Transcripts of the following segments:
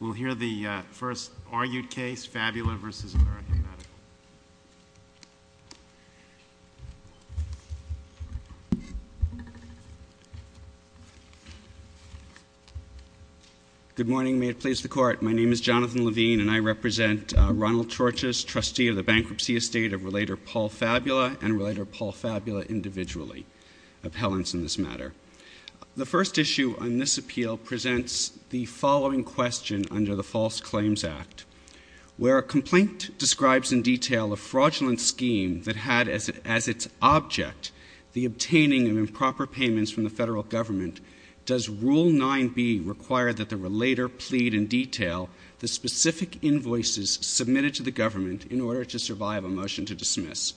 We'll hear the first argued case, Fabula v. American Medical. Good morning, may it please the court. My name is Jonathan Levine and I represent Ronald Torches, trustee of the Bankruptcy Estate of Relator Paul Fabula and Relator Paul Fabula individually, appellants in this matter. The first issue on this appeal presents the following question under the False Claims Act. Where a complaint describes in detail a fraudulent scheme that had as its object the obtaining of improper payments from the federal government, does Rule 9b require that the Relator plead in detail the specific invoices submitted to the government in order to survive a motion to dismiss?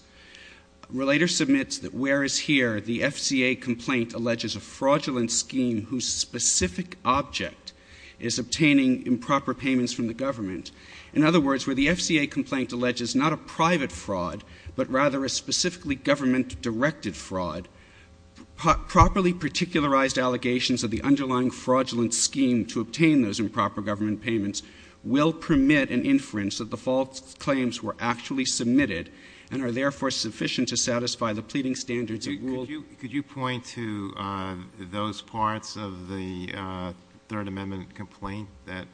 Relator submits that where is here the FCA complaint alleges a fraudulent scheme whose specific object is obtaining improper payments from the government. In other words, where the FCA complaint alleges not a private fraud, but rather a specifically government-directed fraud, properly particularized allegations of the underlying fraudulent scheme to obtain those improper government payments will permit an inference that the false claims were actually submitted and are therefore sufficient to satisfy the pleading standards of Rule 9b. Could you point to those parts of the Third Amendment complaint that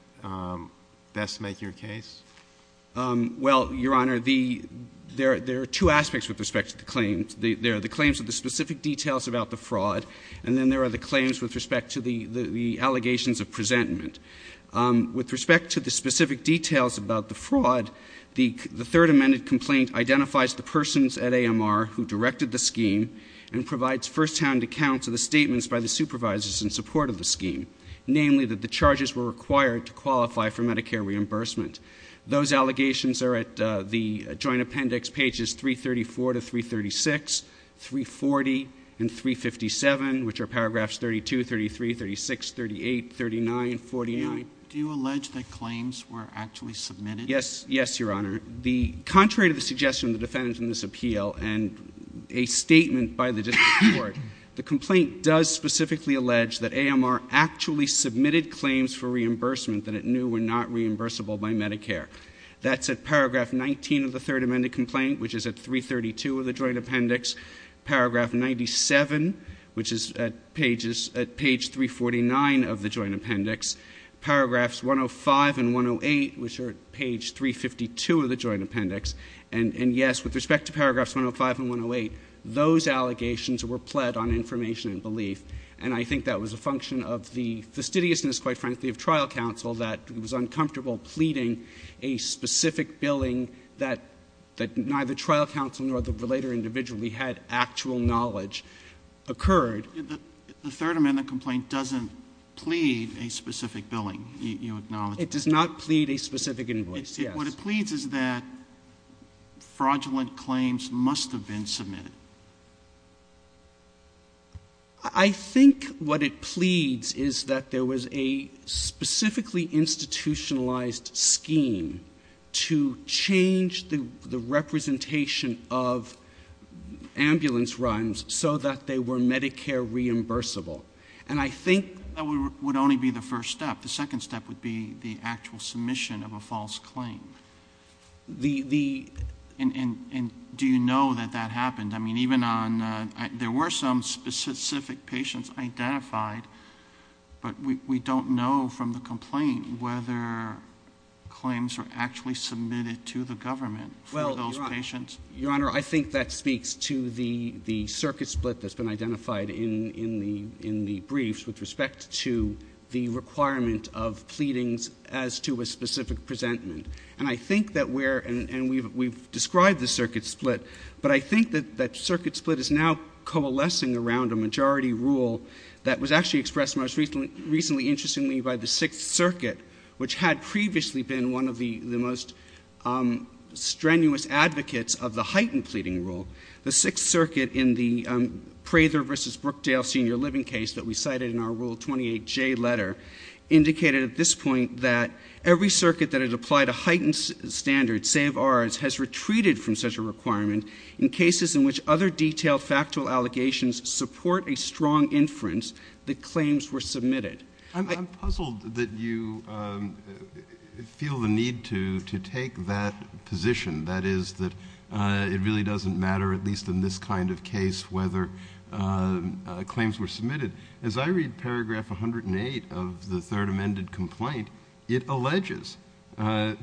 best make your case? Well, Your Honor, there are two aspects with respect to the claims. There are the claims of the specific details about the fraud and then there are the claims with respect to the allegations of presentment. With respect to the specific details about the fraud, the Third Amendment complaint identifies the persons at AMR who directed the scheme and provides firsthand accounts of the statements by the supervisors in support of the scheme, namely that the charges were required to qualify for Medicare reimbursement. Those allegations are at the Joint Appendix pages 334 to 336, 340, and 357, which are paragraphs 32, 33, 36, 38, 39, 49. Do you allege that claims were actually submitted? Yes, Your Honor. Contrary to the suggestion of the defendants in this appeal and a statement by the district court, the complaint does specifically allege that AMR actually submitted claims for reimbursement that it knew were not reimbursable by Medicare. That's at paragraph 19 of the Third Amendment complaint, which is at 332 of the Joint Appendix. Paragraph 97, which is at pages — at page 349 of the Joint Appendix. Paragraphs 105 and 108, which are at page 352 of the Joint Appendix. And, yes, with respect to paragraphs 105 and 108, those allegations were pled on information and belief, and I think that was a function of the fastidiousness, quite frankly, of trial counsel that it was uncomfortable pleading a specific billing that neither trial counsel nor the relator individually had actual knowledge occurred. The Third Amendment complaint doesn't plead a specific billing, you acknowledge that? It does not plead a specific invoice, yes. What it pleads is that fraudulent claims must have been submitted. I think what it pleads is that there was a specifically institutionalized scheme to change the representation of ambulance runs so that they were Medicare reimbursable. And I think that would only be the first step. The second step would be the actual submission of a false claim. And do you know that that happened? I mean, even on — there were some specific patients identified, but we don't know from the complaint whether claims were actually submitted to the government for those patients. Well, Your Honor, I think that speaks to the circuit split that's been identified in the briefs with respect to the requirement of pleadings as to a specific presentment. And I think that we're — and we've described the circuit split, but I think that that circuit split is now coalescing around a majority rule that was actually expressed most recently, interestingly, by the Sixth Circuit, which had previously been one of the most strenuous advocates of the heightened pleading rule. The Sixth Circuit in the Prather v. Brookdale senior living case that we cited in our Rule 28J letter indicated at this point that every circuit that had applied a heightened standard, save ours, has retreated from such a requirement in cases in which other detailed factual allegations support a strong inference that claims were submitted. I'm puzzled that you feel the need to take that position, that is that it really doesn't matter, at least in this kind of case, whether claims were submitted. As I read paragraph 108 of the third amended complaint, it alleges that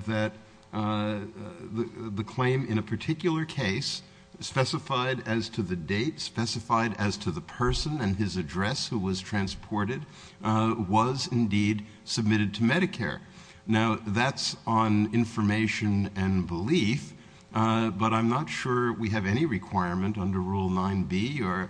the claim in a particular case specified as to the date, specified as to the person and his address who was transported, was indeed submitted to Medicare. Now, that's on information and belief, but I'm not sure we have any requirement under Rule 9B or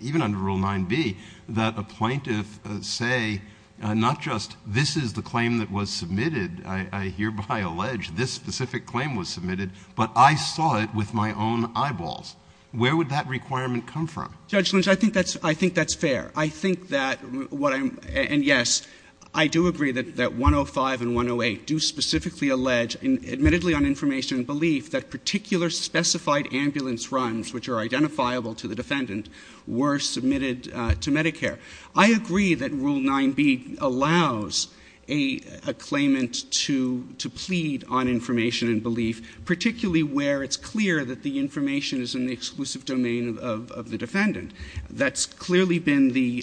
even under Rule 9B that a plaintiff say not just this is the claim that was submitted, I hereby allege this specific claim was submitted, but I saw it with my own eyeballs. Where would that requirement come from? Judge Lynch, I think that's fair. I think that what I'm, and yes, I do agree that 105 and 108 do specifically allege, admittedly on information and belief, that particular specified ambulance runs, which are identifiable to the defendant, were submitted to Medicare. I agree that Rule 9B allows a claimant to plead on information and belief, particularly where it's clear that the information is in the exclusive domain of the defendant. That's clearly been the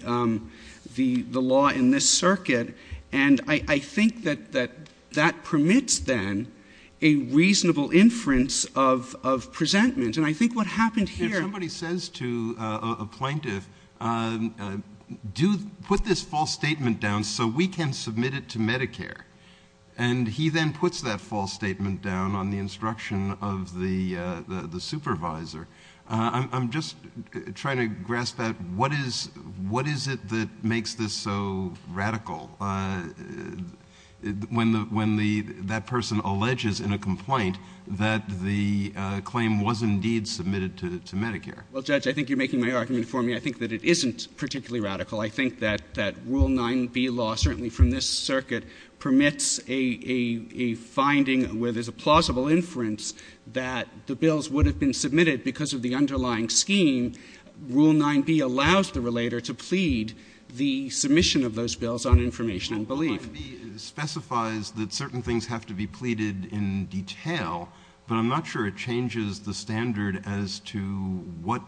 law in this circuit, and I think that that permits, then, a reasonable inference of presentment, and I think what happened here. If somebody says to a plaintiff, put this false statement down so we can submit it to Medicare, and he then puts that false statement down on the instruction of the supervisor, I'm just trying to grasp at what is it that makes this so radical when that person alleges in a complaint that the claim was indeed submitted to Medicare? Well, Judge, I think you're making my argument for me. I think that it isn't particularly radical. I think that Rule 9B law, certainly from this circuit, permits a finding where there's a plausible inference that the bills would have been submitted because of the underlying scheme. Rule 9B allows the relator to plead the submission of those bills on information and belief. Rule 9B specifies that certain things have to be pleaded in detail, but I'm not sure it changes the standard as to what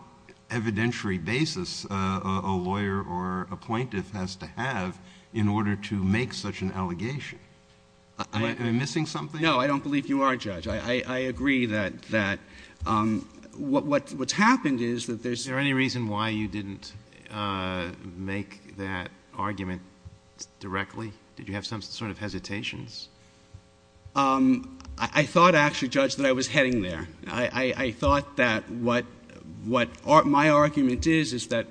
evidentiary basis a lawyer or a plaintiff has to have in order to make such an allegation. Am I missing something? No, I don't believe you are, Judge. I agree that what's happened is that there's — Is there any reason why you didn't make that argument directly? Did you have some sort of hesitations? I thought, actually, Judge, that I was heading there. I thought that what my argument is is that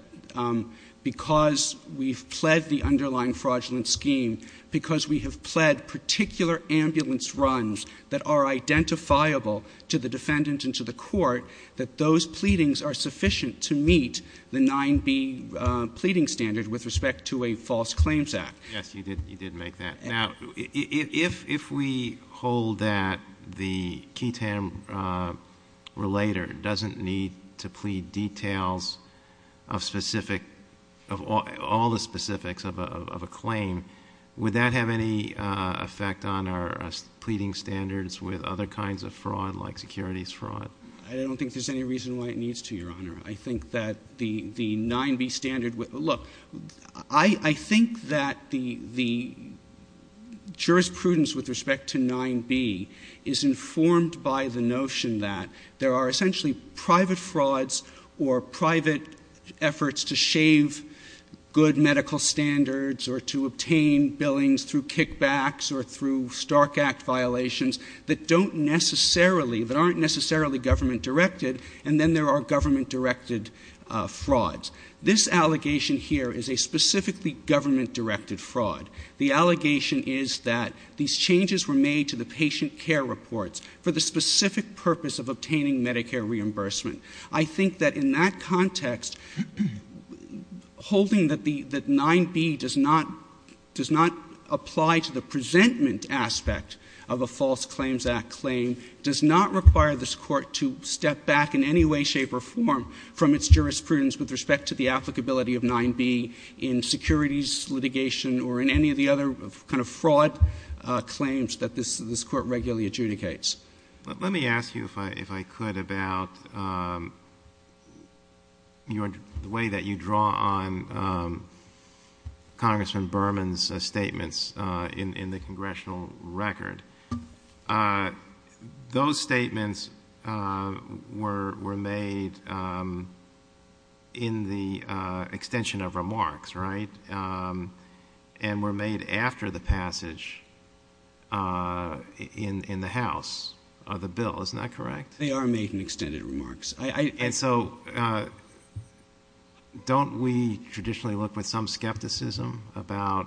because we've pled the underlying fraudulent scheme, because we have pled particular ambulance runs that are identifiable to the defendant and to the court, that those pleadings are sufficient to meet the 9B pleading standard with respect to a false claims act. Yes, you did make that. Now, if we hold that the Keaton relator doesn't need to plead details of all the specifics of a claim, would that have any effect on our pleading standards with other kinds of fraud like securities fraud? I don't think there's any reason why it needs to, Your Honor. I think that the 9B standard — look, I think that the jurisprudence with respect to 9B is informed by the notion that there are essentially private frauds or private efforts to shave good medical standards or to obtain billings through kickbacks or through Stark Act violations that don't necessarily — that don't necessarily have to do with government-directed frauds. This allegation here is a specifically government-directed fraud. The allegation is that these changes were made to the patient care reports for the specific purpose of obtaining Medicare reimbursement. I think that in that context, holding that 9B does not apply to the presentment aspect of a false claims act claim does not require this Court to step back in any way, shape, or form from its jurisprudence with respect to the applicability of 9B in securities litigation or in any of the other kind of fraud claims that this Court regularly adjudicates. Let me ask you, if I could, about the way that you draw on Congressman Berman's statements in the congressional record. Those statements were made in the extension of remarks, right, and were made after the passage in the House of the bill. Isn't that correct? They are made in extended remarks. And so don't we traditionally look with some skepticism about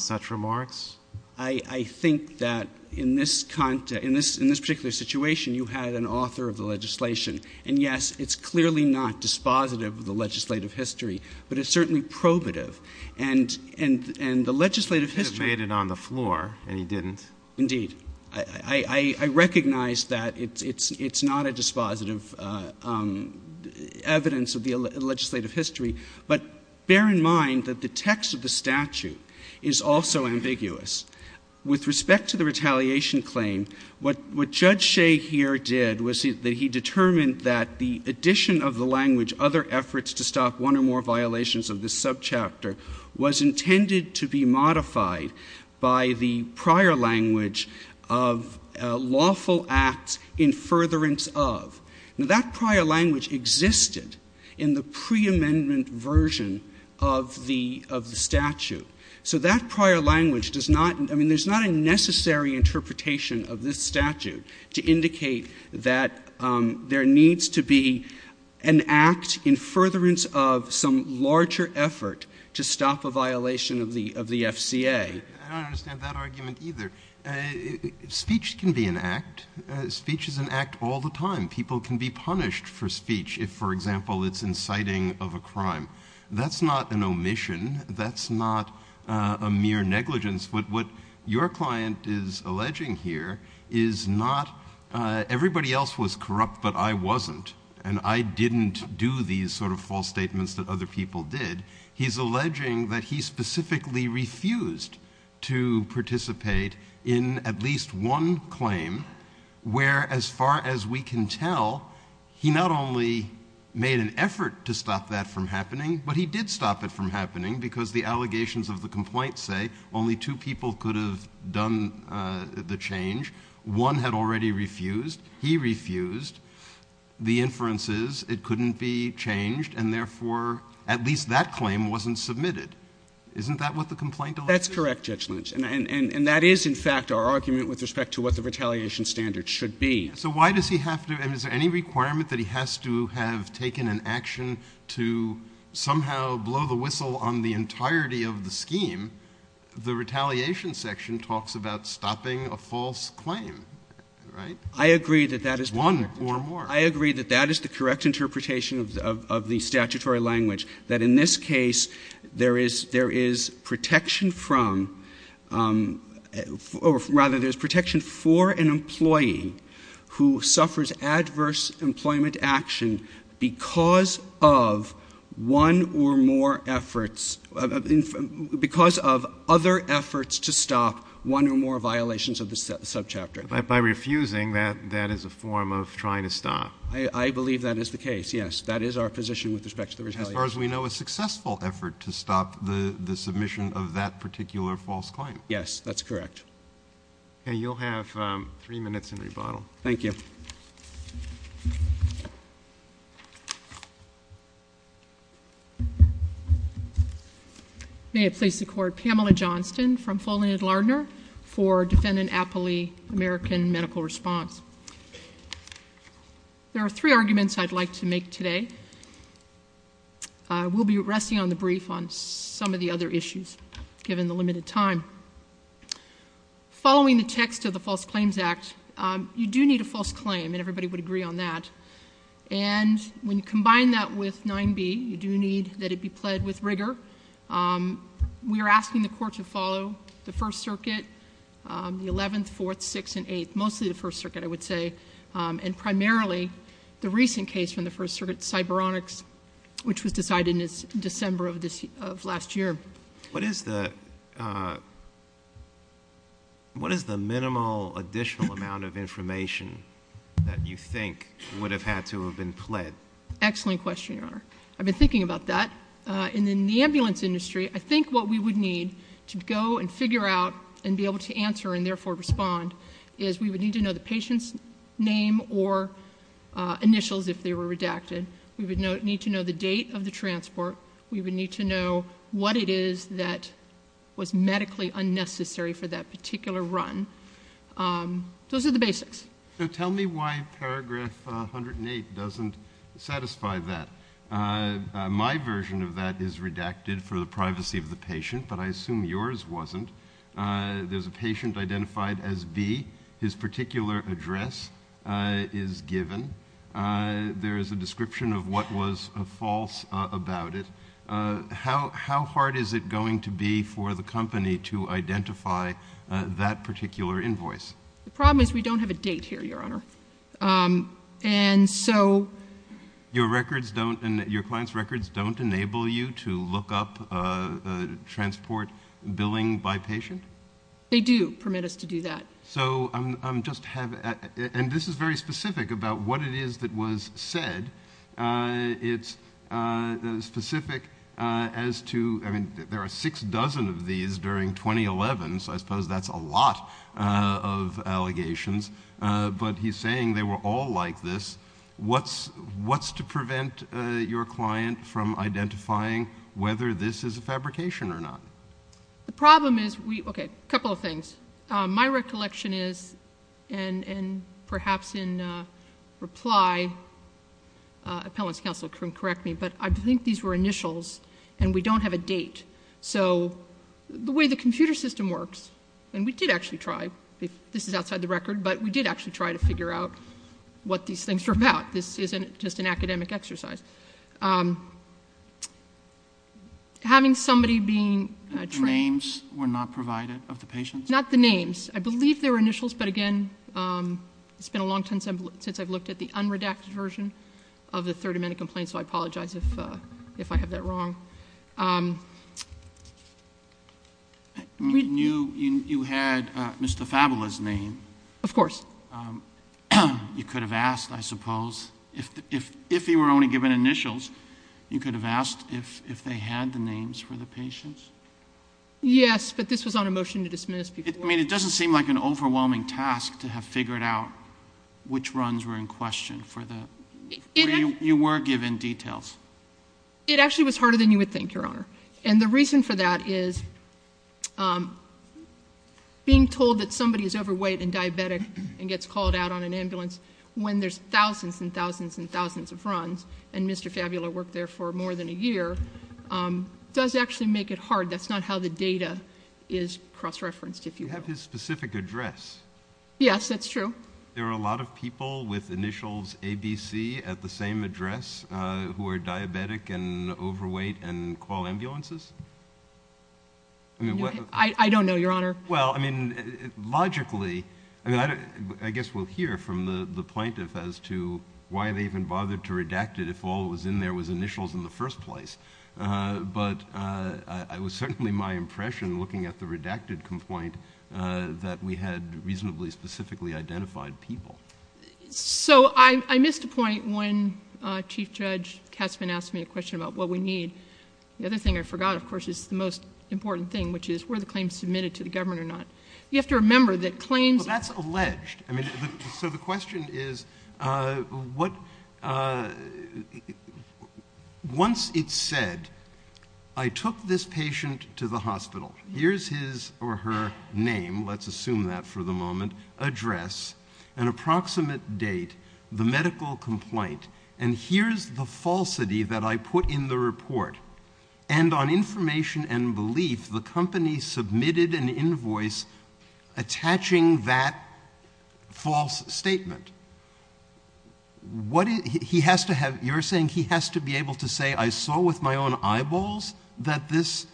such remarks? I think that in this particular situation, you had an author of the legislation. And, yes, it's clearly not dispositive of the legislative history, but it's certainly probative. And the legislative history — He should have made it on the floor, and he didn't. Indeed. I recognize that it's not a dispositive evidence of the legislative history. But bear in mind that the text of the statute is also ambiguous. With respect to the retaliation claim, what Judge Shea here did was that he determined that the addition of the language other efforts to stop one or more violations of this subchapter was intended to be modified by the prior language of lawful acts in furtherance of. Now, that prior language existed in the preamendment version of the statute. So that prior language does not — I mean, there's not a necessary interpretation of this statute to indicate that there needs to be an act in furtherance of some larger effort to stop a violation of the FCA. I don't understand that argument either. Speech can be an act. Speech is an act all the time. People can be punished for speech if, for example, it's inciting of a crime. That's not an omission. That's not a mere negligence. What your client is alleging here is not everybody else was corrupt, but I wasn't. And I didn't do these sort of false statements that other people did. He's alleging that he specifically refused to participate in at least one claim where, as far as we can tell, he not only made an effort to stop that from happening, but he did stop it from happening because the allegations of the complaint say only two people could have done the change. One had already refused. He refused. The inference is it couldn't be changed and, therefore, at least that claim wasn't submitted. Isn't that what the complaint alleges? That's correct, Judge Lynch. And that is, in fact, our argument with respect to what the retaliation standard should be. So why does he have to? I mean, is there any requirement that he has to have taken an action to somehow blow the whistle on the entirety of the scheme? The retaliation section talks about stopping a false claim, right? I agree that that is correct. One or more. I agree that that is the correct interpretation of the statutory language, that in this case there is protection from or, rather, there is protection for an employee who suffers adverse employment action because of one or more efforts, because of other efforts to stop one or more violations of the subchapter. By refusing, that is a form of trying to stop. I believe that is the case, yes. That is our position with respect to the retaliation. As far as we know, a successful effort to stop the submission of that particular false claim. Yes, that's correct. Okay. You'll have three minutes in rebuttal. Thank you. Thank you. May it please the Court, Pamela Johnston from Folland and Lardner for Defendant Appley American Medical Response. There are three arguments I'd like to make today. We'll be resting on the brief on some of the other issues, given the limited time. Following the text of the False Claims Act, you do need a false claim, and everybody would agree on that. And when you combine that with 9B, you do need that it be pled with rigor. We are asking the Court to follow the First Circuit, the 11th, 4th, 6th, and 8th, mostly the First Circuit, I would say, and primarily the recent case from the First Circuit, cyberonics, which was decided in December of last year. What is the minimal additional amount of information that you think would have had to have been pled? Excellent question, Your Honor. I've been thinking about that. In the ambulance industry, I think what we would need to go and figure out and be able to answer and therefore respond is we would need to know the patient's name or initials, if they were redacted. We would need to know the date of the transport. We would need to know what it is that was medically unnecessary for that particular run. Those are the basics. Tell me why paragraph 108 doesn't satisfy that. My version of that is redacted for the privacy of the patient, but I assume yours wasn't. There's a patient identified as B. His particular address is given. There is a description of what was false about it. How hard is it going to be for the company to identify that particular invoice? The problem is we don't have a date here, Your Honor. Your client's records don't enable you to look up transport billing by patient? They do permit us to do that. And this is very specific about what it is that was said. It's specific as to, I mean, there are six dozen of these during 2011, so I suppose that's a lot of allegations, but he's saying they were all like this. What's to prevent your client from identifying whether this is a fabrication or not? The problem is we, okay, a couple of things. My recollection is, and perhaps in reply, appellants counsel can correct me, but I think these were initials and we don't have a date. So the way the computer system works, and we did actually try, this is outside the record, but we did actually try to figure out what these things were about. This isn't just an academic exercise. Having somebody being trained. The names were not provided of the patients? Not the names. I believe they were initials, but, again, it's been a long time since I've looked at the unredacted version of the Third Amendment complaint, so I apologize if I have that wrong. You had Mr. Fabula's name. Of course. You could have asked, I suppose. If he were only given initials, you could have asked if they had the names for the patients? Yes, but this was on a motion to dismiss. I mean, it doesn't seem like an overwhelming task to have figured out which runs were in question. You were given details. It actually was harder than you would think, Your Honor, and the reason for that is being told that somebody is overweight and diabetic and gets called out on an ambulance when there's thousands and thousands and thousands of runs, and Mr. Fabula worked there for more than a year, does actually make it hard. That's not how the data is cross-referenced, if you will. You have his specific address. Yes, that's true. There are a lot of people with initials ABC at the same address who are diabetic and overweight and call ambulances? I don't know, Your Honor. Well, I mean, logically... I guess we'll hear from the plaintiff as to why they even bothered to redact it if all that was in there was initials in the first place, but it was certainly my impression looking at the redacted complaint that we had reasonably specifically identified people. So I missed a point when Chief Judge Katzmann asked me a question about what we need. The other thing I forgot, of course, is the most important thing, which is were the claims submitted to the government or not. You have to remember that claims... Well, that's alleged. So the question is, once it's said, I took this patient to the hospital, here's his or her name, let's assume that for the moment, address, an approximate date, the medical complaint, and here's the falsity that I put in the report. And on information and belief, the company submitted an invoice attaching that false statement. You're saying he has to be able to say, I saw with my own eyeballs that this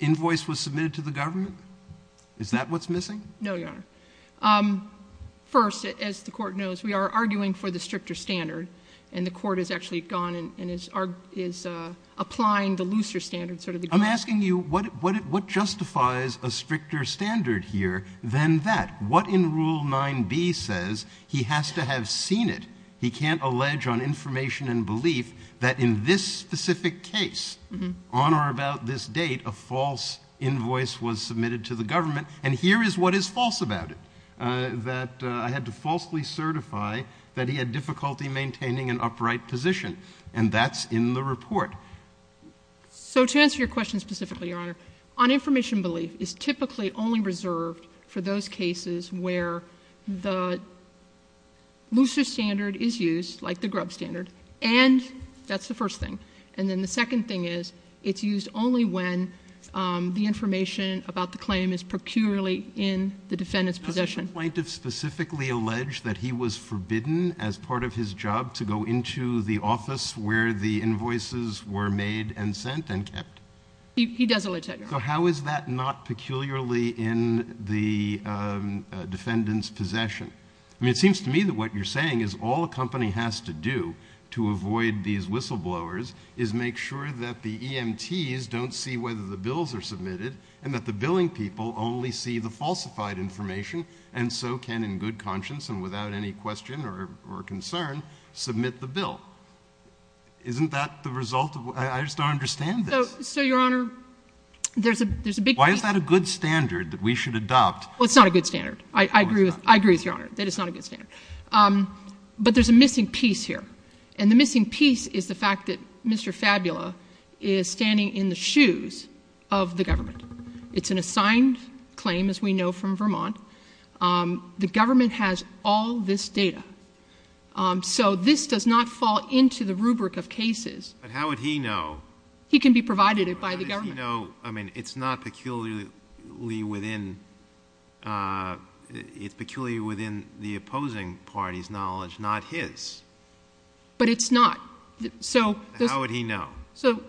invoice was submitted to the government? Is that what's missing? No, Your Honor. First, as the Court knows, we are arguing for the stricter standard, and the Court has actually gone and is applying the looser standard. I'm asking you, what justifies a stricter standard here than that? What in Rule 9b says he has to have seen it, he can't allege on information and belief that in this specific case, on or about this date, a false invoice was submitted to the government, and here is what is false about it, that I had to falsely certify that he had difficulty maintaining an upright position. And that's in the report. So to answer your question specifically, Your Honor, on information and belief is typically only reserved for those cases where the looser standard is used, like the grub standard, and that's the first thing. And then the second thing is, it's used only when the information about the claim is peculiarly in the defendant's possession. Did the plaintiff specifically allege that he was forbidden as part of his job to go into the office where the invoices were made and sent and kept? He does allege that, Your Honor. So how is that not peculiarly in the defendant's possession? I mean, it seems to me that what you're saying is all a company has to do to avoid these whistleblowers is make sure that the EMTs don't see whether the bills are submitted and that the billing people only see the falsified information and so can, in good conscience and without any question or concern, submit the bill. Isn't that the result of what? I just don't understand this. So, Your Honor, there's a big piece. Why is that a good standard that we should adopt? Well, it's not a good standard. I agree with Your Honor that it's not a good standard. But there's a missing piece here. And the missing piece is the fact that Mr. Fabula is standing in the shoes of the government. It's an assigned claim, as we know, from Vermont. The government has all this data. So this does not fall into the rubric of cases. But how would he know? He can be provided it by the government. How would he know? I mean, it's not peculiarly within the opposing party's knowledge, not his. But it's not. How would he know? So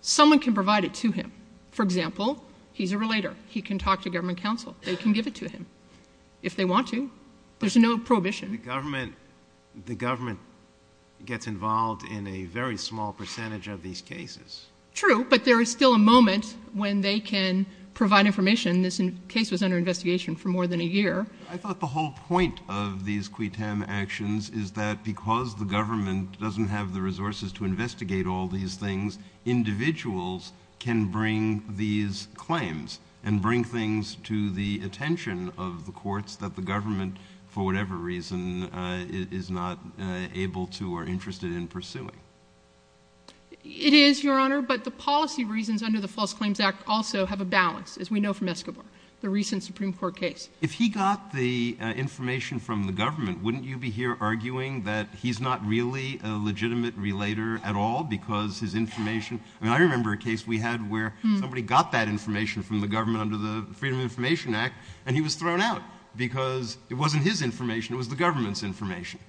someone can provide it to him. For example, he's a relator. He can talk to government counsel. They can give it to him if they want to. There's no prohibition. The government gets involved in a very small percentage of these cases. True, but there is still a moment when they can provide information. This case was under investigation for more than a year. I thought the whole point of these quitem actions is that because the government doesn't have the resources to investigate all these things, individuals can bring these claims and bring things to the attention of the courts that the government, for whatever reason, is not able to or interested in pursuing. It is, Your Honor, but the policy reasons under the False Claims Act also have a balance, as we know from Escobar, the recent Supreme Court case. If he got the information from the government, wouldn't you be here arguing that he's not really a legitimate relator at all because his information? I mean, I remember a case we had where somebody got that information from the government under the Freedom of Information Act, and he was thrown out because it wasn't his information. It was the government's information.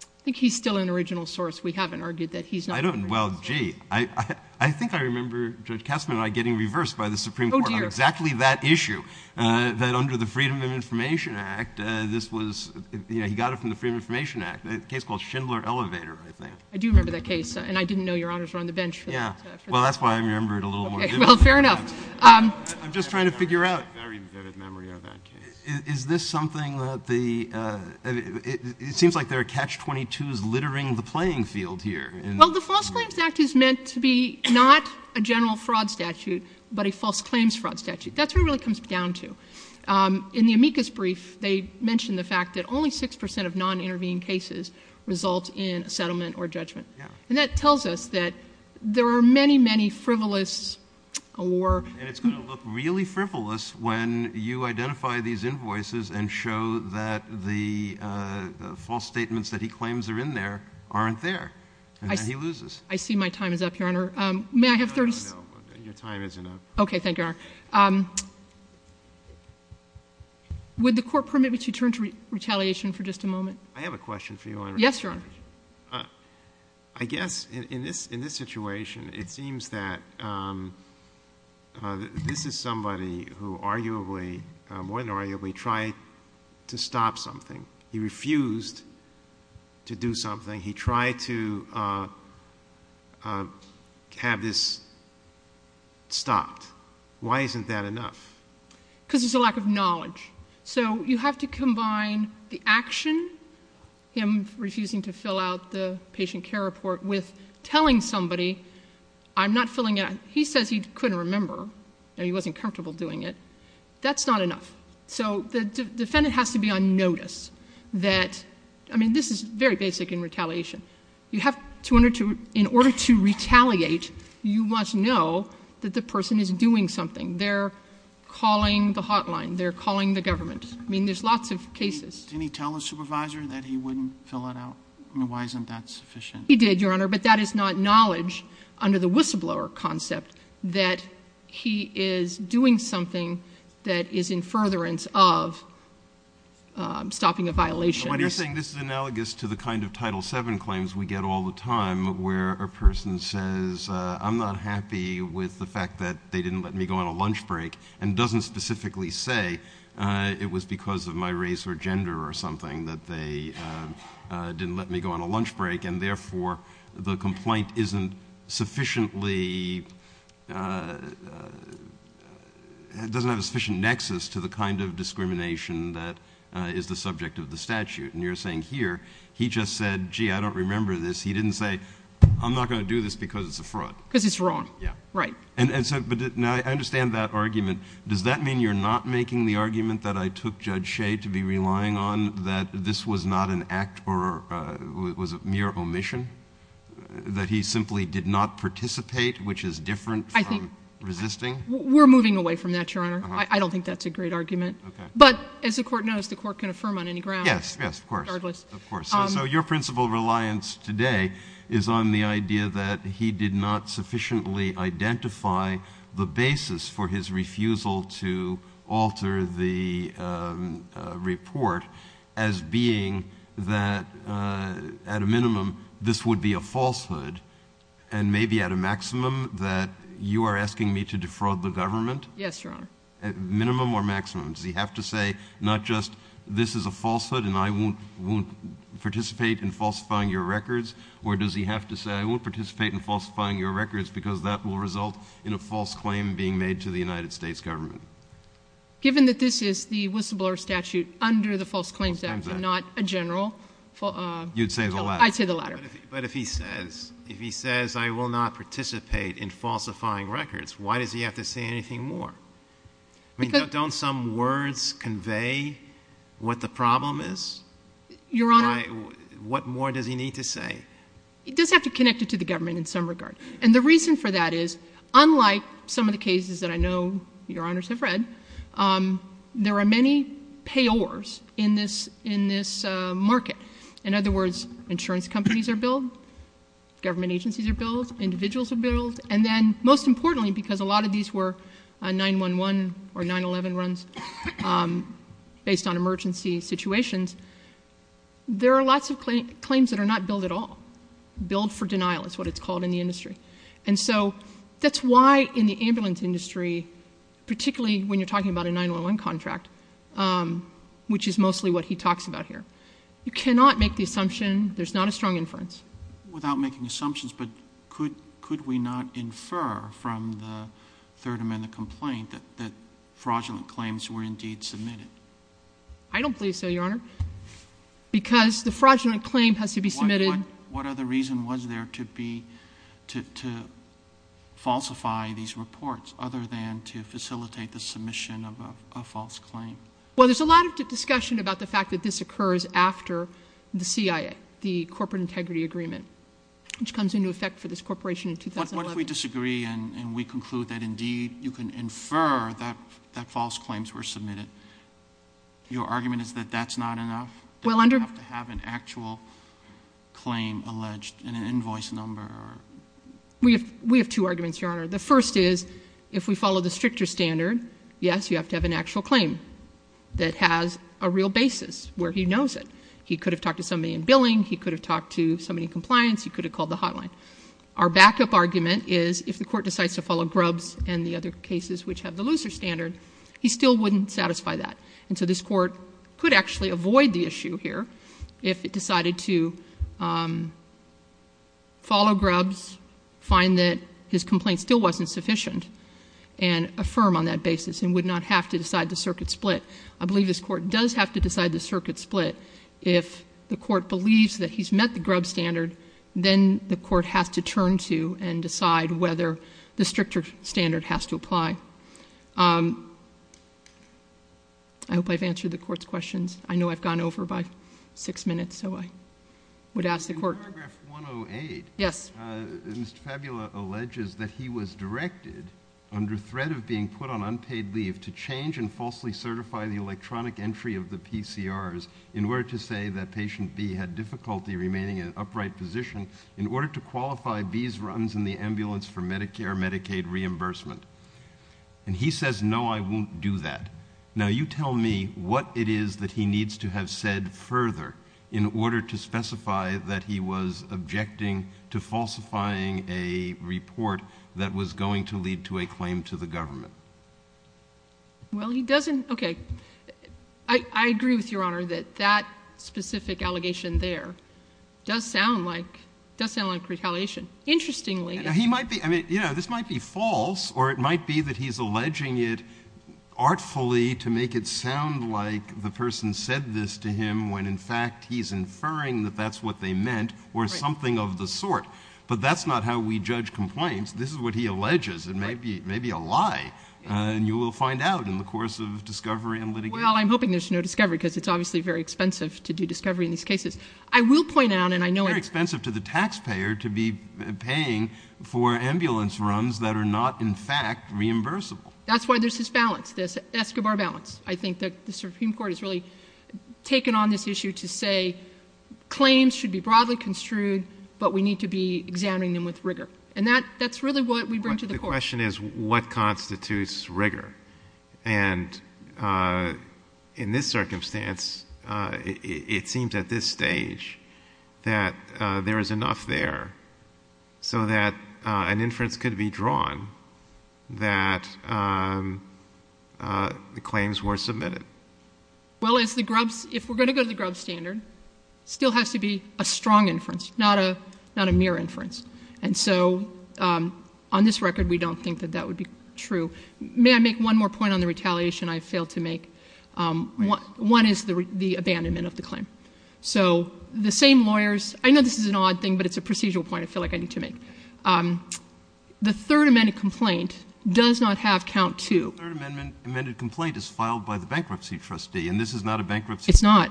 I think he's still an original source. We haven't argued that he's not the original source. Well, gee, I think I remember Judge Kessler and I getting reversed by the Supreme Court on exactly that issue, that under the Freedom of Information Act, he got it from the Freedom of Information Act, a case called Schindler Elevator, I think. I do remember that case, and I didn't know Your Honors were on the bench for that. Yeah, well, that's why I remember it a little more vividly. Okay, well, fair enough. I'm just trying to figure out. Very vivid memory of that case. Is this something that the—it seems like there are catch-22s littering the playing field here. Well, the False Claims Act is meant to be not a general fraud statute but a false claims fraud statute. That's what it really comes down to. In the amicus brief, they mention the fact that only 6% of non-intervening cases result in a settlement or judgment. And that tells us that there are many, many frivolous or— and show that the false statements that he claims are in there aren't there, and then he loses. I see my time is up, Your Honor. May I have 30 seconds? No, your time isn't up. Okay, thank you, Your Honor. Would the Court permit me to turn to retaliation for just a moment? I have a question for you, Your Honor. Yes, Your Honor. I guess in this situation, it seems that this is somebody who arguably, more than arguably, tried to stop something. He refused to do something. He tried to have this stopped. Why isn't that enough? Because there's a lack of knowledge. So you have to combine the action, him refusing to fill out the patient care report, with telling somebody, I'm not filling out—he says he couldn't remember and he wasn't comfortable doing it. That's not enough. So the defendant has to be on notice that—I mean, this is very basic in retaliation. You have to—in order to retaliate, you must know that the person is doing something. They're calling the hotline. They're calling the government. I mean, there's lots of cases. Didn't he tell the supervisor that he wouldn't fill it out? Why isn't that sufficient? He did, Your Honor, but that is not knowledge under the whistleblower concept, that he is doing something that is in furtherance of stopping a violation. But you're saying this is analogous to the kind of Title VII claims we get all the time, where a person says, I'm not happy with the fact that they didn't let me go on a lunch break, and doesn't specifically say it was because of my race or gender or something, that they didn't let me go on a lunch break, and therefore the complaint isn't sufficiently—doesn't have a sufficient nexus to the kind of discrimination that is the subject of the statute. And you're saying here, he just said, gee, I don't remember this. He didn't say, I'm not going to do this because it's a fraud. Because it's wrong. Yeah. Right. And so now I understand that argument. Does that mean you're not making the argument that I took Judge Shea to be relying on, that this was not an act or was a mere omission, that he simply did not participate, which is different from resisting? We're moving away from that, Your Honor. I don't think that's a great argument. Okay. But as the Court knows, the Court can affirm on any ground. Yes, yes, of course. Regardless. Of course. So your principle of reliance today is on the idea that he did not sufficiently identify the basis for his refusal to alter the report as being that at a minimum this would be a falsehood and maybe at a maximum that you are asking me to defraud the government? Yes, Your Honor. Minimum or maximum? Does he have to say not just this is a falsehood and I won't participate in falsifying your records, or does he have to say I won't participate in falsifying your records because that will result in a false claim being made to the United States government? Given that this is the whistleblower statute under the False Claims Act and not a general – You'd say the latter. I'd say the latter. But if he says I will not participate in falsifying records, why does he have to say anything more? Don't some words convey what the problem is? Your Honor – What more does he need to say? He does have to connect it to the government in some regard. And the reason for that is unlike some of the cases that I know Your Honors have read, there are many payors in this market. In other words, insurance companies are billed, government agencies are billed, individuals are billed, and then most importantly because a lot of these were 911 or 911 runs based on emergency situations, there are lots of claims that are not billed at all. Billed for denial is what it's called in the industry. And so that's why in the ambulance industry, particularly when you're talking about a 911 contract, which is mostly what he talks about here, you cannot make the assumption there's not a strong inference. Without making assumptions, but could we not infer from the Third Amendment complaint that fraudulent claims were indeed submitted? I don't believe so, Your Honor, because the fraudulent claim has to be submitted. What other reason was there to falsify these reports other than to facilitate the submission of a false claim? Well, there's a lot of discussion about the fact that this occurs after the C.I.A., the Corporate Integrity Agreement, which comes into effect for this corporation in 2011. What if we disagree and we conclude that indeed you can infer that false claims were submitted? Your argument is that that's not enough? Do we have to have an actual claim alleged in an invoice number? We have two arguments, Your Honor. The first is if we follow the stricter standard, yes, you have to have an actual claim that has a real basis where he knows it. He could have talked to somebody in billing. He could have talked to somebody in compliance. He could have called the hotline. Our backup argument is if the Court decides to follow Grubbs and the other cases which have the looser standard, he still wouldn't satisfy that. And so this Court could actually avoid the issue here if it decided to follow Grubbs, find that his complaint still wasn't sufficient, and affirm on that basis and would not have to decide the circuit split. I believe this Court does have to decide the circuit split. If the Court believes that he's met the Grubbs standard, then the Court has to turn to and decide whether the stricter standard has to apply. I hope I've answered the Court's questions. I know I've gone over by six minutes, so I would ask the Court. In paragraph 108, Mr. Fabula alleges that he was directed under threat of being put on unpaid leave to change and falsely certify the electronic entry of the PCRs in order to say that patient B had difficulty remaining in an upright position in order to qualify B's runs in the ambulance for Medicare-Medicaid reimbursement. And he says, no, I won't do that. Now, you tell me what it is that he needs to have said further in order to specify that he was objecting to falsifying a report that was going to lead to a claim to the government. Well, he doesn't, okay. I agree with Your Honor that that specific allegation there does sound like retaliation. Interestingly. He might be, I mean, you know, this might be false or it might be that he's alleging it artfully to make it sound like the person said this to him when in fact he's inferring that that's what they meant or something of the sort. But that's not how we judge complaints. This is what he alleges. It may be a lie, and you will find out in the course of discovery and litigation. Well, I'm hoping there's no discovery because it's obviously very expensive to do discovery in these cases. I will point out, and I know it's very expensive to the taxpayer to be paying for ambulance runs that are not in fact reimbursable. That's why there's this balance, this Escobar balance. I think the Supreme Court has really taken on this issue to say claims should be broadly construed, but we need to be examining them with rigor. And that's really what we bring to the court. The question is what constitutes rigor? And in this circumstance, it seems at this stage that there is enough there so that an inference could be drawn that the claims were submitted. Well, if we're going to go to the Grubb standard, it still has to be a strong inference, not a mere inference. And so on this record, we don't think that that would be true. May I make one more point on the retaliation I failed to make? One is the abandonment of the claim. So the same lawyers — I know this is an odd thing, but it's a procedural point I feel like I need to make. The Third Amendment complaint does not have count two. The Third Amendment complaint is filed by the bankruptcy trustee, and this is not a bankruptcy — It's not.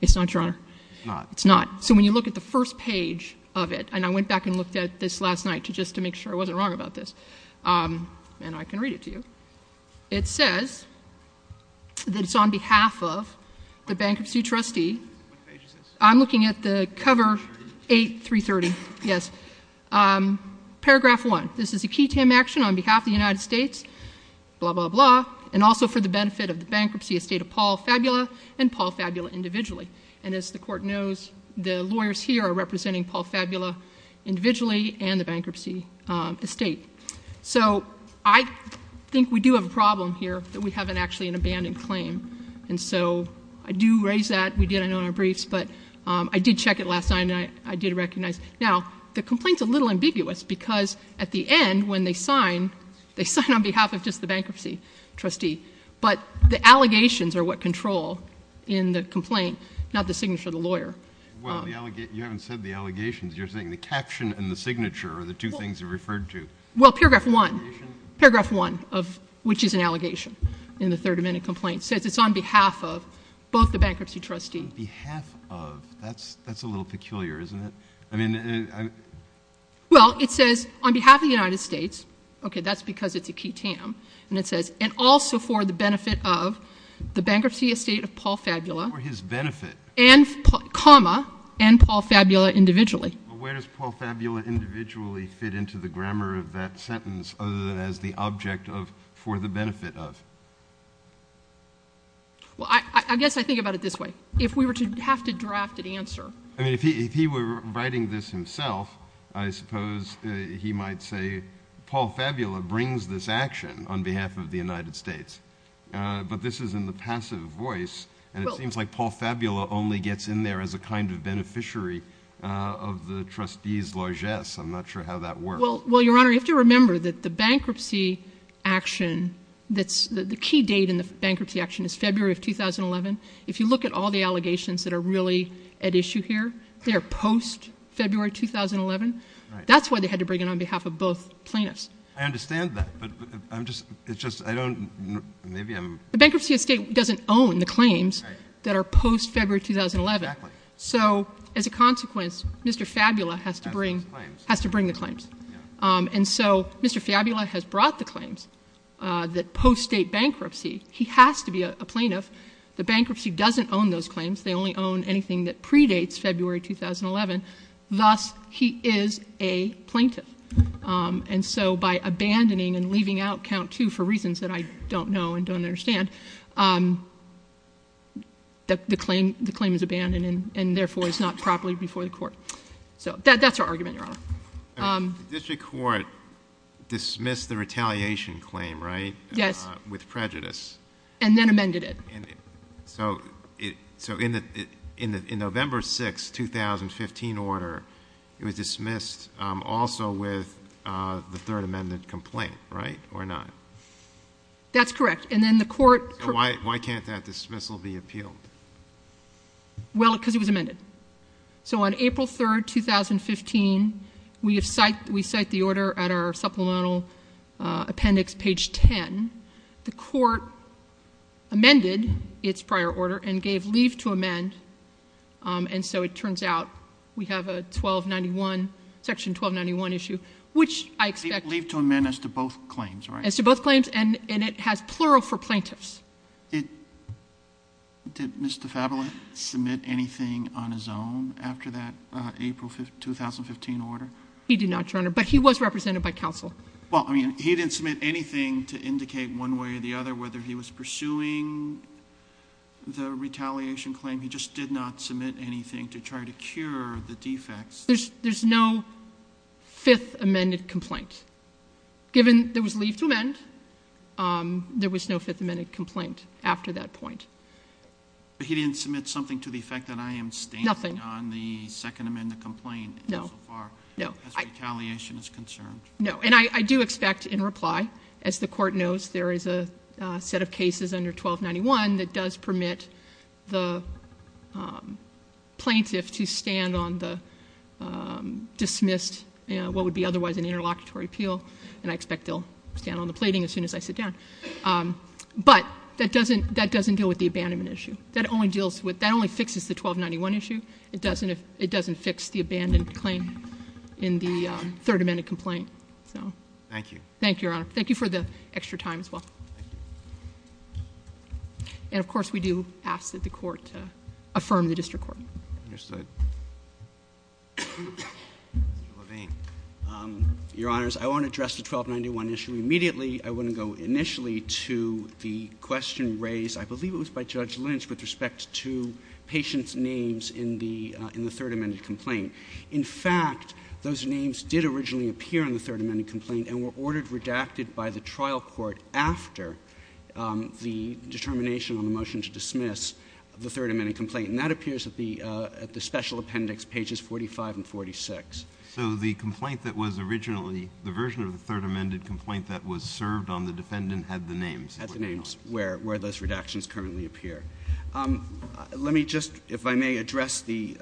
It's not, Your Honor. It's not. It's not. So when you look at the first page of it, and I went back and looked at this last night just to make sure I wasn't wrong about this, and I can read it to you. It says that it's on behalf of the bankruptcy trustee — What page is this? I'm looking at the cover 8, 330. Yes. Paragraph 1. This is a key TAM action on behalf of the United States, blah, blah, blah, and also for the benefit of the bankruptcy estate of Paul Fabula and Paul Fabula individually. And as the Court knows, the lawyers here are representing Paul Fabula individually and the bankruptcy estate. So I think we do have a problem here that we have actually an abandoned claim. And so I do raise that. We did, I know, in our briefs. But I did check it last night, and I did recognize. Now, the complaint's a little ambiguous because at the end when they sign, they sign on behalf of just the bankruptcy trustee. But the allegations are what control in the complaint, not the signature of the lawyer. Well, you haven't said the allegations. You're saying the caption and the signature are the two things you referred to. Well, paragraph 1, paragraph 1, which is an allegation in the 30-minute complaint, says it's on behalf of both the bankruptcy trustee. On behalf of. That's a little peculiar, isn't it? Well, it says on behalf of the United States. Okay, that's because it's a key TAM. And it says, and also for the benefit of the bankruptcy estate of Paul Fabula. For his benefit. And, comma, and Paul Fabula individually. But where does Paul Fabula individually fit into the grammar of that sentence other than as the object of for the benefit of? Well, I guess I think about it this way. If we were to have to draft an answer. I mean, if he were writing this himself, I suppose he might say, Paul Fabula brings this action on behalf of the United States. But this is in the passive voice. And it seems like Paul Fabula only gets in there as a kind of beneficiary of the trustee's largesse. I'm not sure how that works. Well, Your Honor, you have to remember that the bankruptcy action that's the key date in the bankruptcy action is February of 2011. If you look at all the allegations that are really at issue here, they are post-February 2011. That's why they had to bring it on behalf of both plaintiffs. I understand that. But I'm just, it's just, I don't, maybe I'm. The bankruptcy estate doesn't own the claims that are post-February 2011. Exactly. So as a consequence, Mr. Fabula has to bring. Has to bring the claims. Has to bring the claims. And so Mr. Fabula has brought the claims that post-state bankruptcy, he has to be a plaintiff. The bankruptcy doesn't own those claims. They only own anything that predates February 2011. Thus, he is a plaintiff. And so by abandoning and leaving out count two for reasons that I don't know and don't understand, the claim is abandoned and therefore is not properly before the court. So that's our argument, Your Honor. The district court dismissed the retaliation claim, right? Yes. With prejudice. And then amended it. So in the November 6, 2015 order, it was dismissed also with the third amendment complaint, right? Or not? That's correct. And then the court. Why can't that dismissal be appealed? Well, because it was amended. So on April 3, 2015, we cite the order at our supplemental appendix, page 10. The court amended its prior order and gave leave to amend. And so it turns out we have a 1291, section 1291 issue, which I expect. Leave to amend as to both claims, right? As to both claims. And it has plural for plaintiffs. Did Mr. Fabula submit anything on his own after that April 2015 order? He did not, Your Honor. But he was represented by counsel. Well, I mean, he didn't submit anything to indicate one way or the other whether he was pursuing the retaliation claim. He just did not submit anything to try to cure the defects. There's no fifth amended complaint. Given there was leave to amend, there was no fifth amended complaint after that point. But he didn't submit something to the effect that I am standing on the second amended complaint so far. No. No. As retaliation is concerned. No. And I do expect in reply, as the court knows, there is a set of cases under 1291 that does permit the plaintiff to stand on the dismissed, what would be otherwise an interlocutory appeal. And I expect they'll stand on the plating as soon as I sit down. But that doesn't deal with the abandonment issue. That only deals with, that only fixes the 1291 issue. It doesn't fix the abandoned claim in the third amended complaint. Thank you. Thank you, Your Honor. Thank you for the extra time as well. And, of course, we do ask that the court affirm the district court. Understood. Mr. Levine. Your Honors, I want to address the 1291 issue immediately. I want to go initially to the question raised, I believe it was by Judge Lynch, with respect to patients' names in the third amended complaint. In fact, those names did originally appear in the third amended complaint and were ordered redacted by the trial court after the determination on the motion to dismiss the third amended complaint. And that appears at the special appendix, pages 45 and 46. So the complaint that was originally, the version of the third amended complaint that was served on the defendant had the names? Had the names, where those redactions currently appear. Let me just, if I may, address the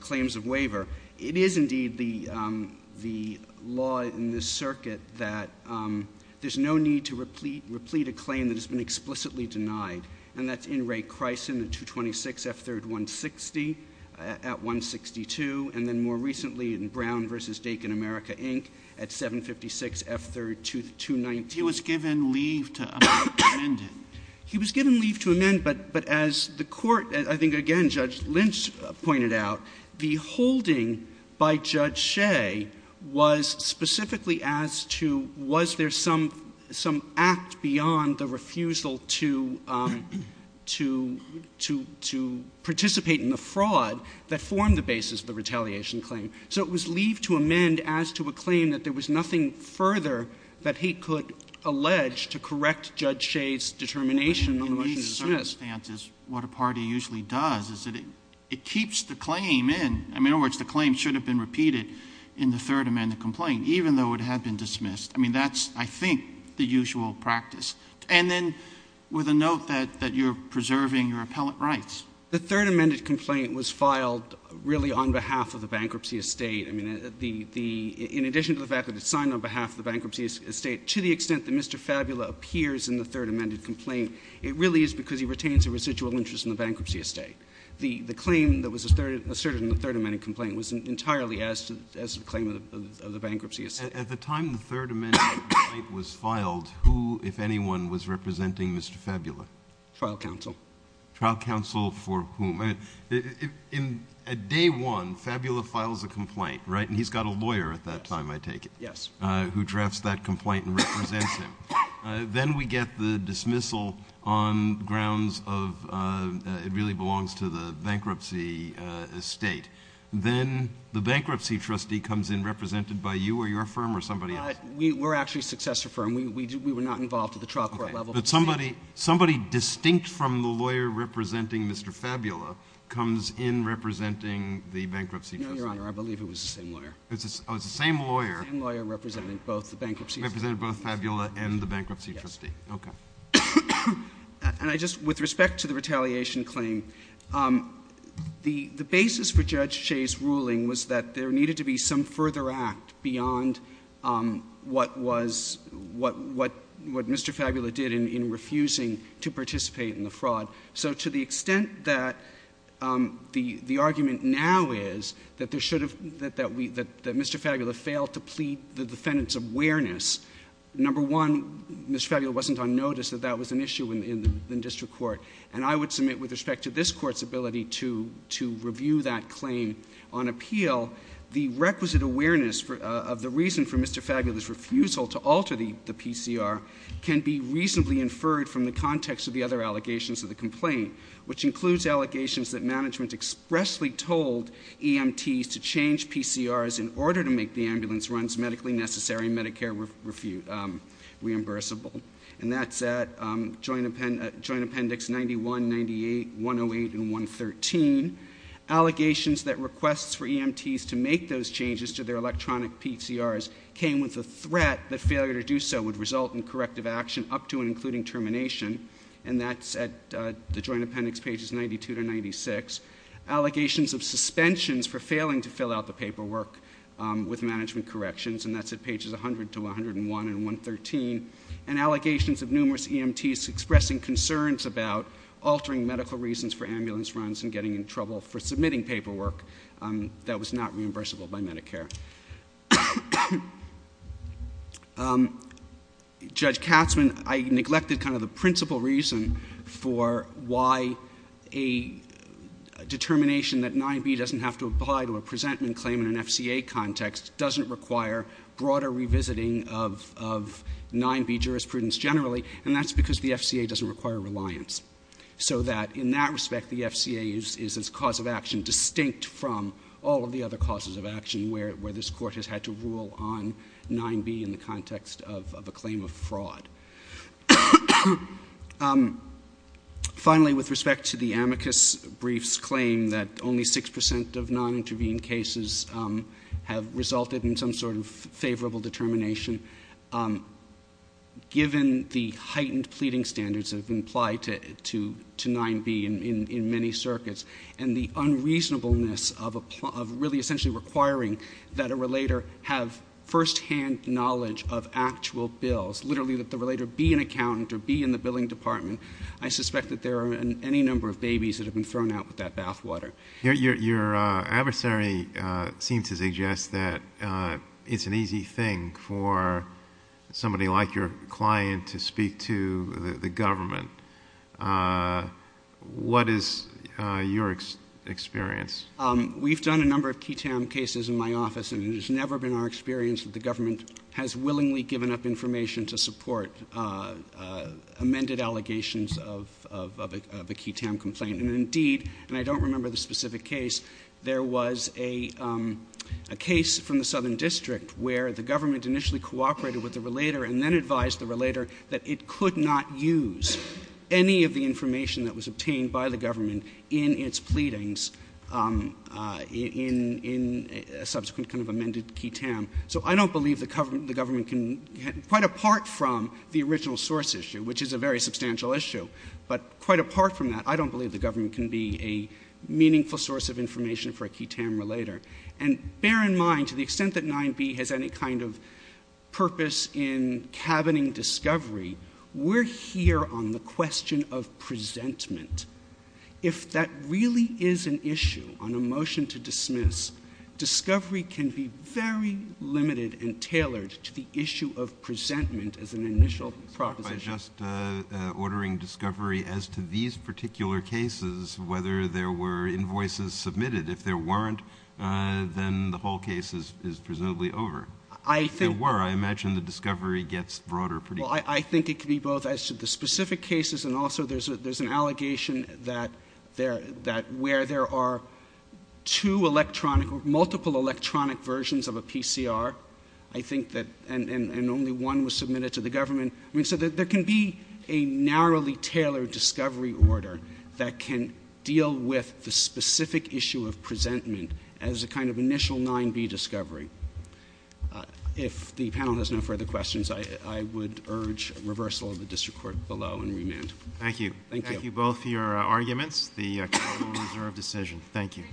claims of waiver. It is, indeed, the law in this circuit that there's no need to replete a claim that has been explicitly denied. And that's in Ray Kricin, the 226 F. 3rd. 160 at 162. And then more recently in Brown v. Dakin America, Inc. at 756 F. 3rd. 290. He was given leave to amend it. He was given leave to amend, but as the court, I think again, Judge Lynch pointed out, the holding by Judge Shea was specifically as to was there some act beyond the refusal to participate in the fraud that formed the basis of the retaliation claim. So it was leave to amend as to a claim that there was nothing further that he could allege to correct Judge Shea's determination on the motion to dismiss. In these circumstances, what a party usually does is that it keeps the claim in. In other words, the claim should have been repeated in the third amended complaint, even though it had been dismissed. I mean, that's, I think, the usual practice. And then with a note that you're preserving your appellate rights. The third amended complaint was filed really on behalf of the bankruptcy estate. I mean, in addition to the fact that it's signed on behalf of the bankruptcy estate, to the extent that Mr. Fabula appears in the third amended complaint, it really is because he retains a residual interest in the bankruptcy estate. The claim that was asserted in the third amended complaint was entirely as to the claim of the bankruptcy estate. At the time the third amended complaint was filed, who, if anyone, was representing Mr. Fabula? Trial counsel. Trial counsel for whom? At day one, Fabula files a complaint, right? And he's got a lawyer at that time, I take it. Yes. Who drafts that complaint and represents him. Then we get the dismissal on grounds of it really belongs to the bankruptcy estate. Then the bankruptcy trustee comes in represented by you or your firm or somebody else? We're actually a successor firm. We were not involved at the trial court level. But somebody distinct from the lawyer representing Mr. Fabula comes in representing the bankruptcy trustee? No, Your Honor. I believe it was the same lawyer. Oh, it's the same lawyer. The same lawyer representing both the bankruptcy trustee. Representing both Fabula and the bankruptcy trustee. Yes. Okay. With respect to the retaliation claim, the basis for Judge Shea's ruling was that there needed to be some further act beyond what Mr. Fabula did in refusing to participate in the fraud. So to the extent that the argument now is that Mr. Fabula failed to plead the defendant's awareness, number one, Mr. Fabula wasn't on notice that that was an issue in the district court. And I would submit with respect to this court's ability to review that claim on appeal, the requisite awareness of the reason for Mr. Fabula's refusal to alter the PCR can be reasonably inferred from the context of the other allegations of the complaint, which includes allegations that management expressly told EMTs to change PCRs in order to make the ambulance runs medically necessary and Medicare reimbursable. And that's at Joint Appendix 91, 98, 108, and 113. Allegations that requests for EMTs to make those changes to their electronic PCRs came with the threat that failure to do so would result in corrective action up to and including termination. And that's at the Joint Appendix pages 92 to 96. Allegations of suspensions for failing to fill out the paperwork with management corrections, and that's at pages 100 to 101 and 113. And allegations of numerous EMTs expressing concerns about altering medical reasons for ambulance runs and getting in trouble for submitting paperwork that was not reimbursable by Medicare. Judge Katzman, I neglected kind of the principal reason for why a determination that 9b doesn't have to apply to a presentment claim in an FCA context doesn't require broader revisiting of 9b jurisprudence generally, and that's because the FCA doesn't require reliance. So that in that respect, the FCA is its cause of action distinct from all of the other causes of action where this Court has had to rule on 9b in the context of a claim of fraud. Finally, with respect to the amicus briefs claim that only 6% of non-intervened cases have resulted in some sort of favorable determination, given the heightened pleading standards that have been applied to 9b in many circuits, and the unreasonableness of really essentially requiring that a relator have firsthand knowledge of actual bills, literally that the relator be an accountant or be in the billing department, I suspect that there are any number of babies that have been thrown out with that bathwater. Your adversary seems to suggest that it's an easy thing for somebody like your client to speak to the government. What is your experience? We've done a number of QI-TAM cases in my office, and it has never been our experience that the government has willingly given up information to support amended allegations of a QI-TAM complaint. And indeed, and I don't remember the specific case, there was a case from the Southern District where the government initially cooperated with the relator and then advised the relator that it could not use any of the information that was obtained by the government in its pleadings in a subsequent kind of amended QI-TAM. So I don't believe the government can, quite apart from the original source issue, which is a very substantial issue, but quite apart from that, I don't believe the government can be a meaningful source of information for a QI-TAM relator. And bear in mind, to the extent that 9B has any kind of purpose in cabining discovery, we're here on the question of presentment. If that really is an issue on a motion to dismiss, discovery can be very limited and tailored to the issue of presentment as an initial proposition. I'm just ordering discovery as to these particular cases, whether there were invoices submitted. If there weren't, then the whole case is presumably over. If there were, I imagine the discovery gets broader pretty quickly. Well, I think it could be both as to the specific cases and also there's an allegation that where there are two electronic, multiple electronic versions of a PCR, I think that, and only one was submitted to the government. I mean, so there can be a narrowly tailored discovery order that can deal with the specific issue of presentment as a kind of initial 9B discovery. If the panel has no further questions, I would urge reversal of the district court below and remand. Thank you. Thank you both for your arguments, the capital reserve decision. Thank you.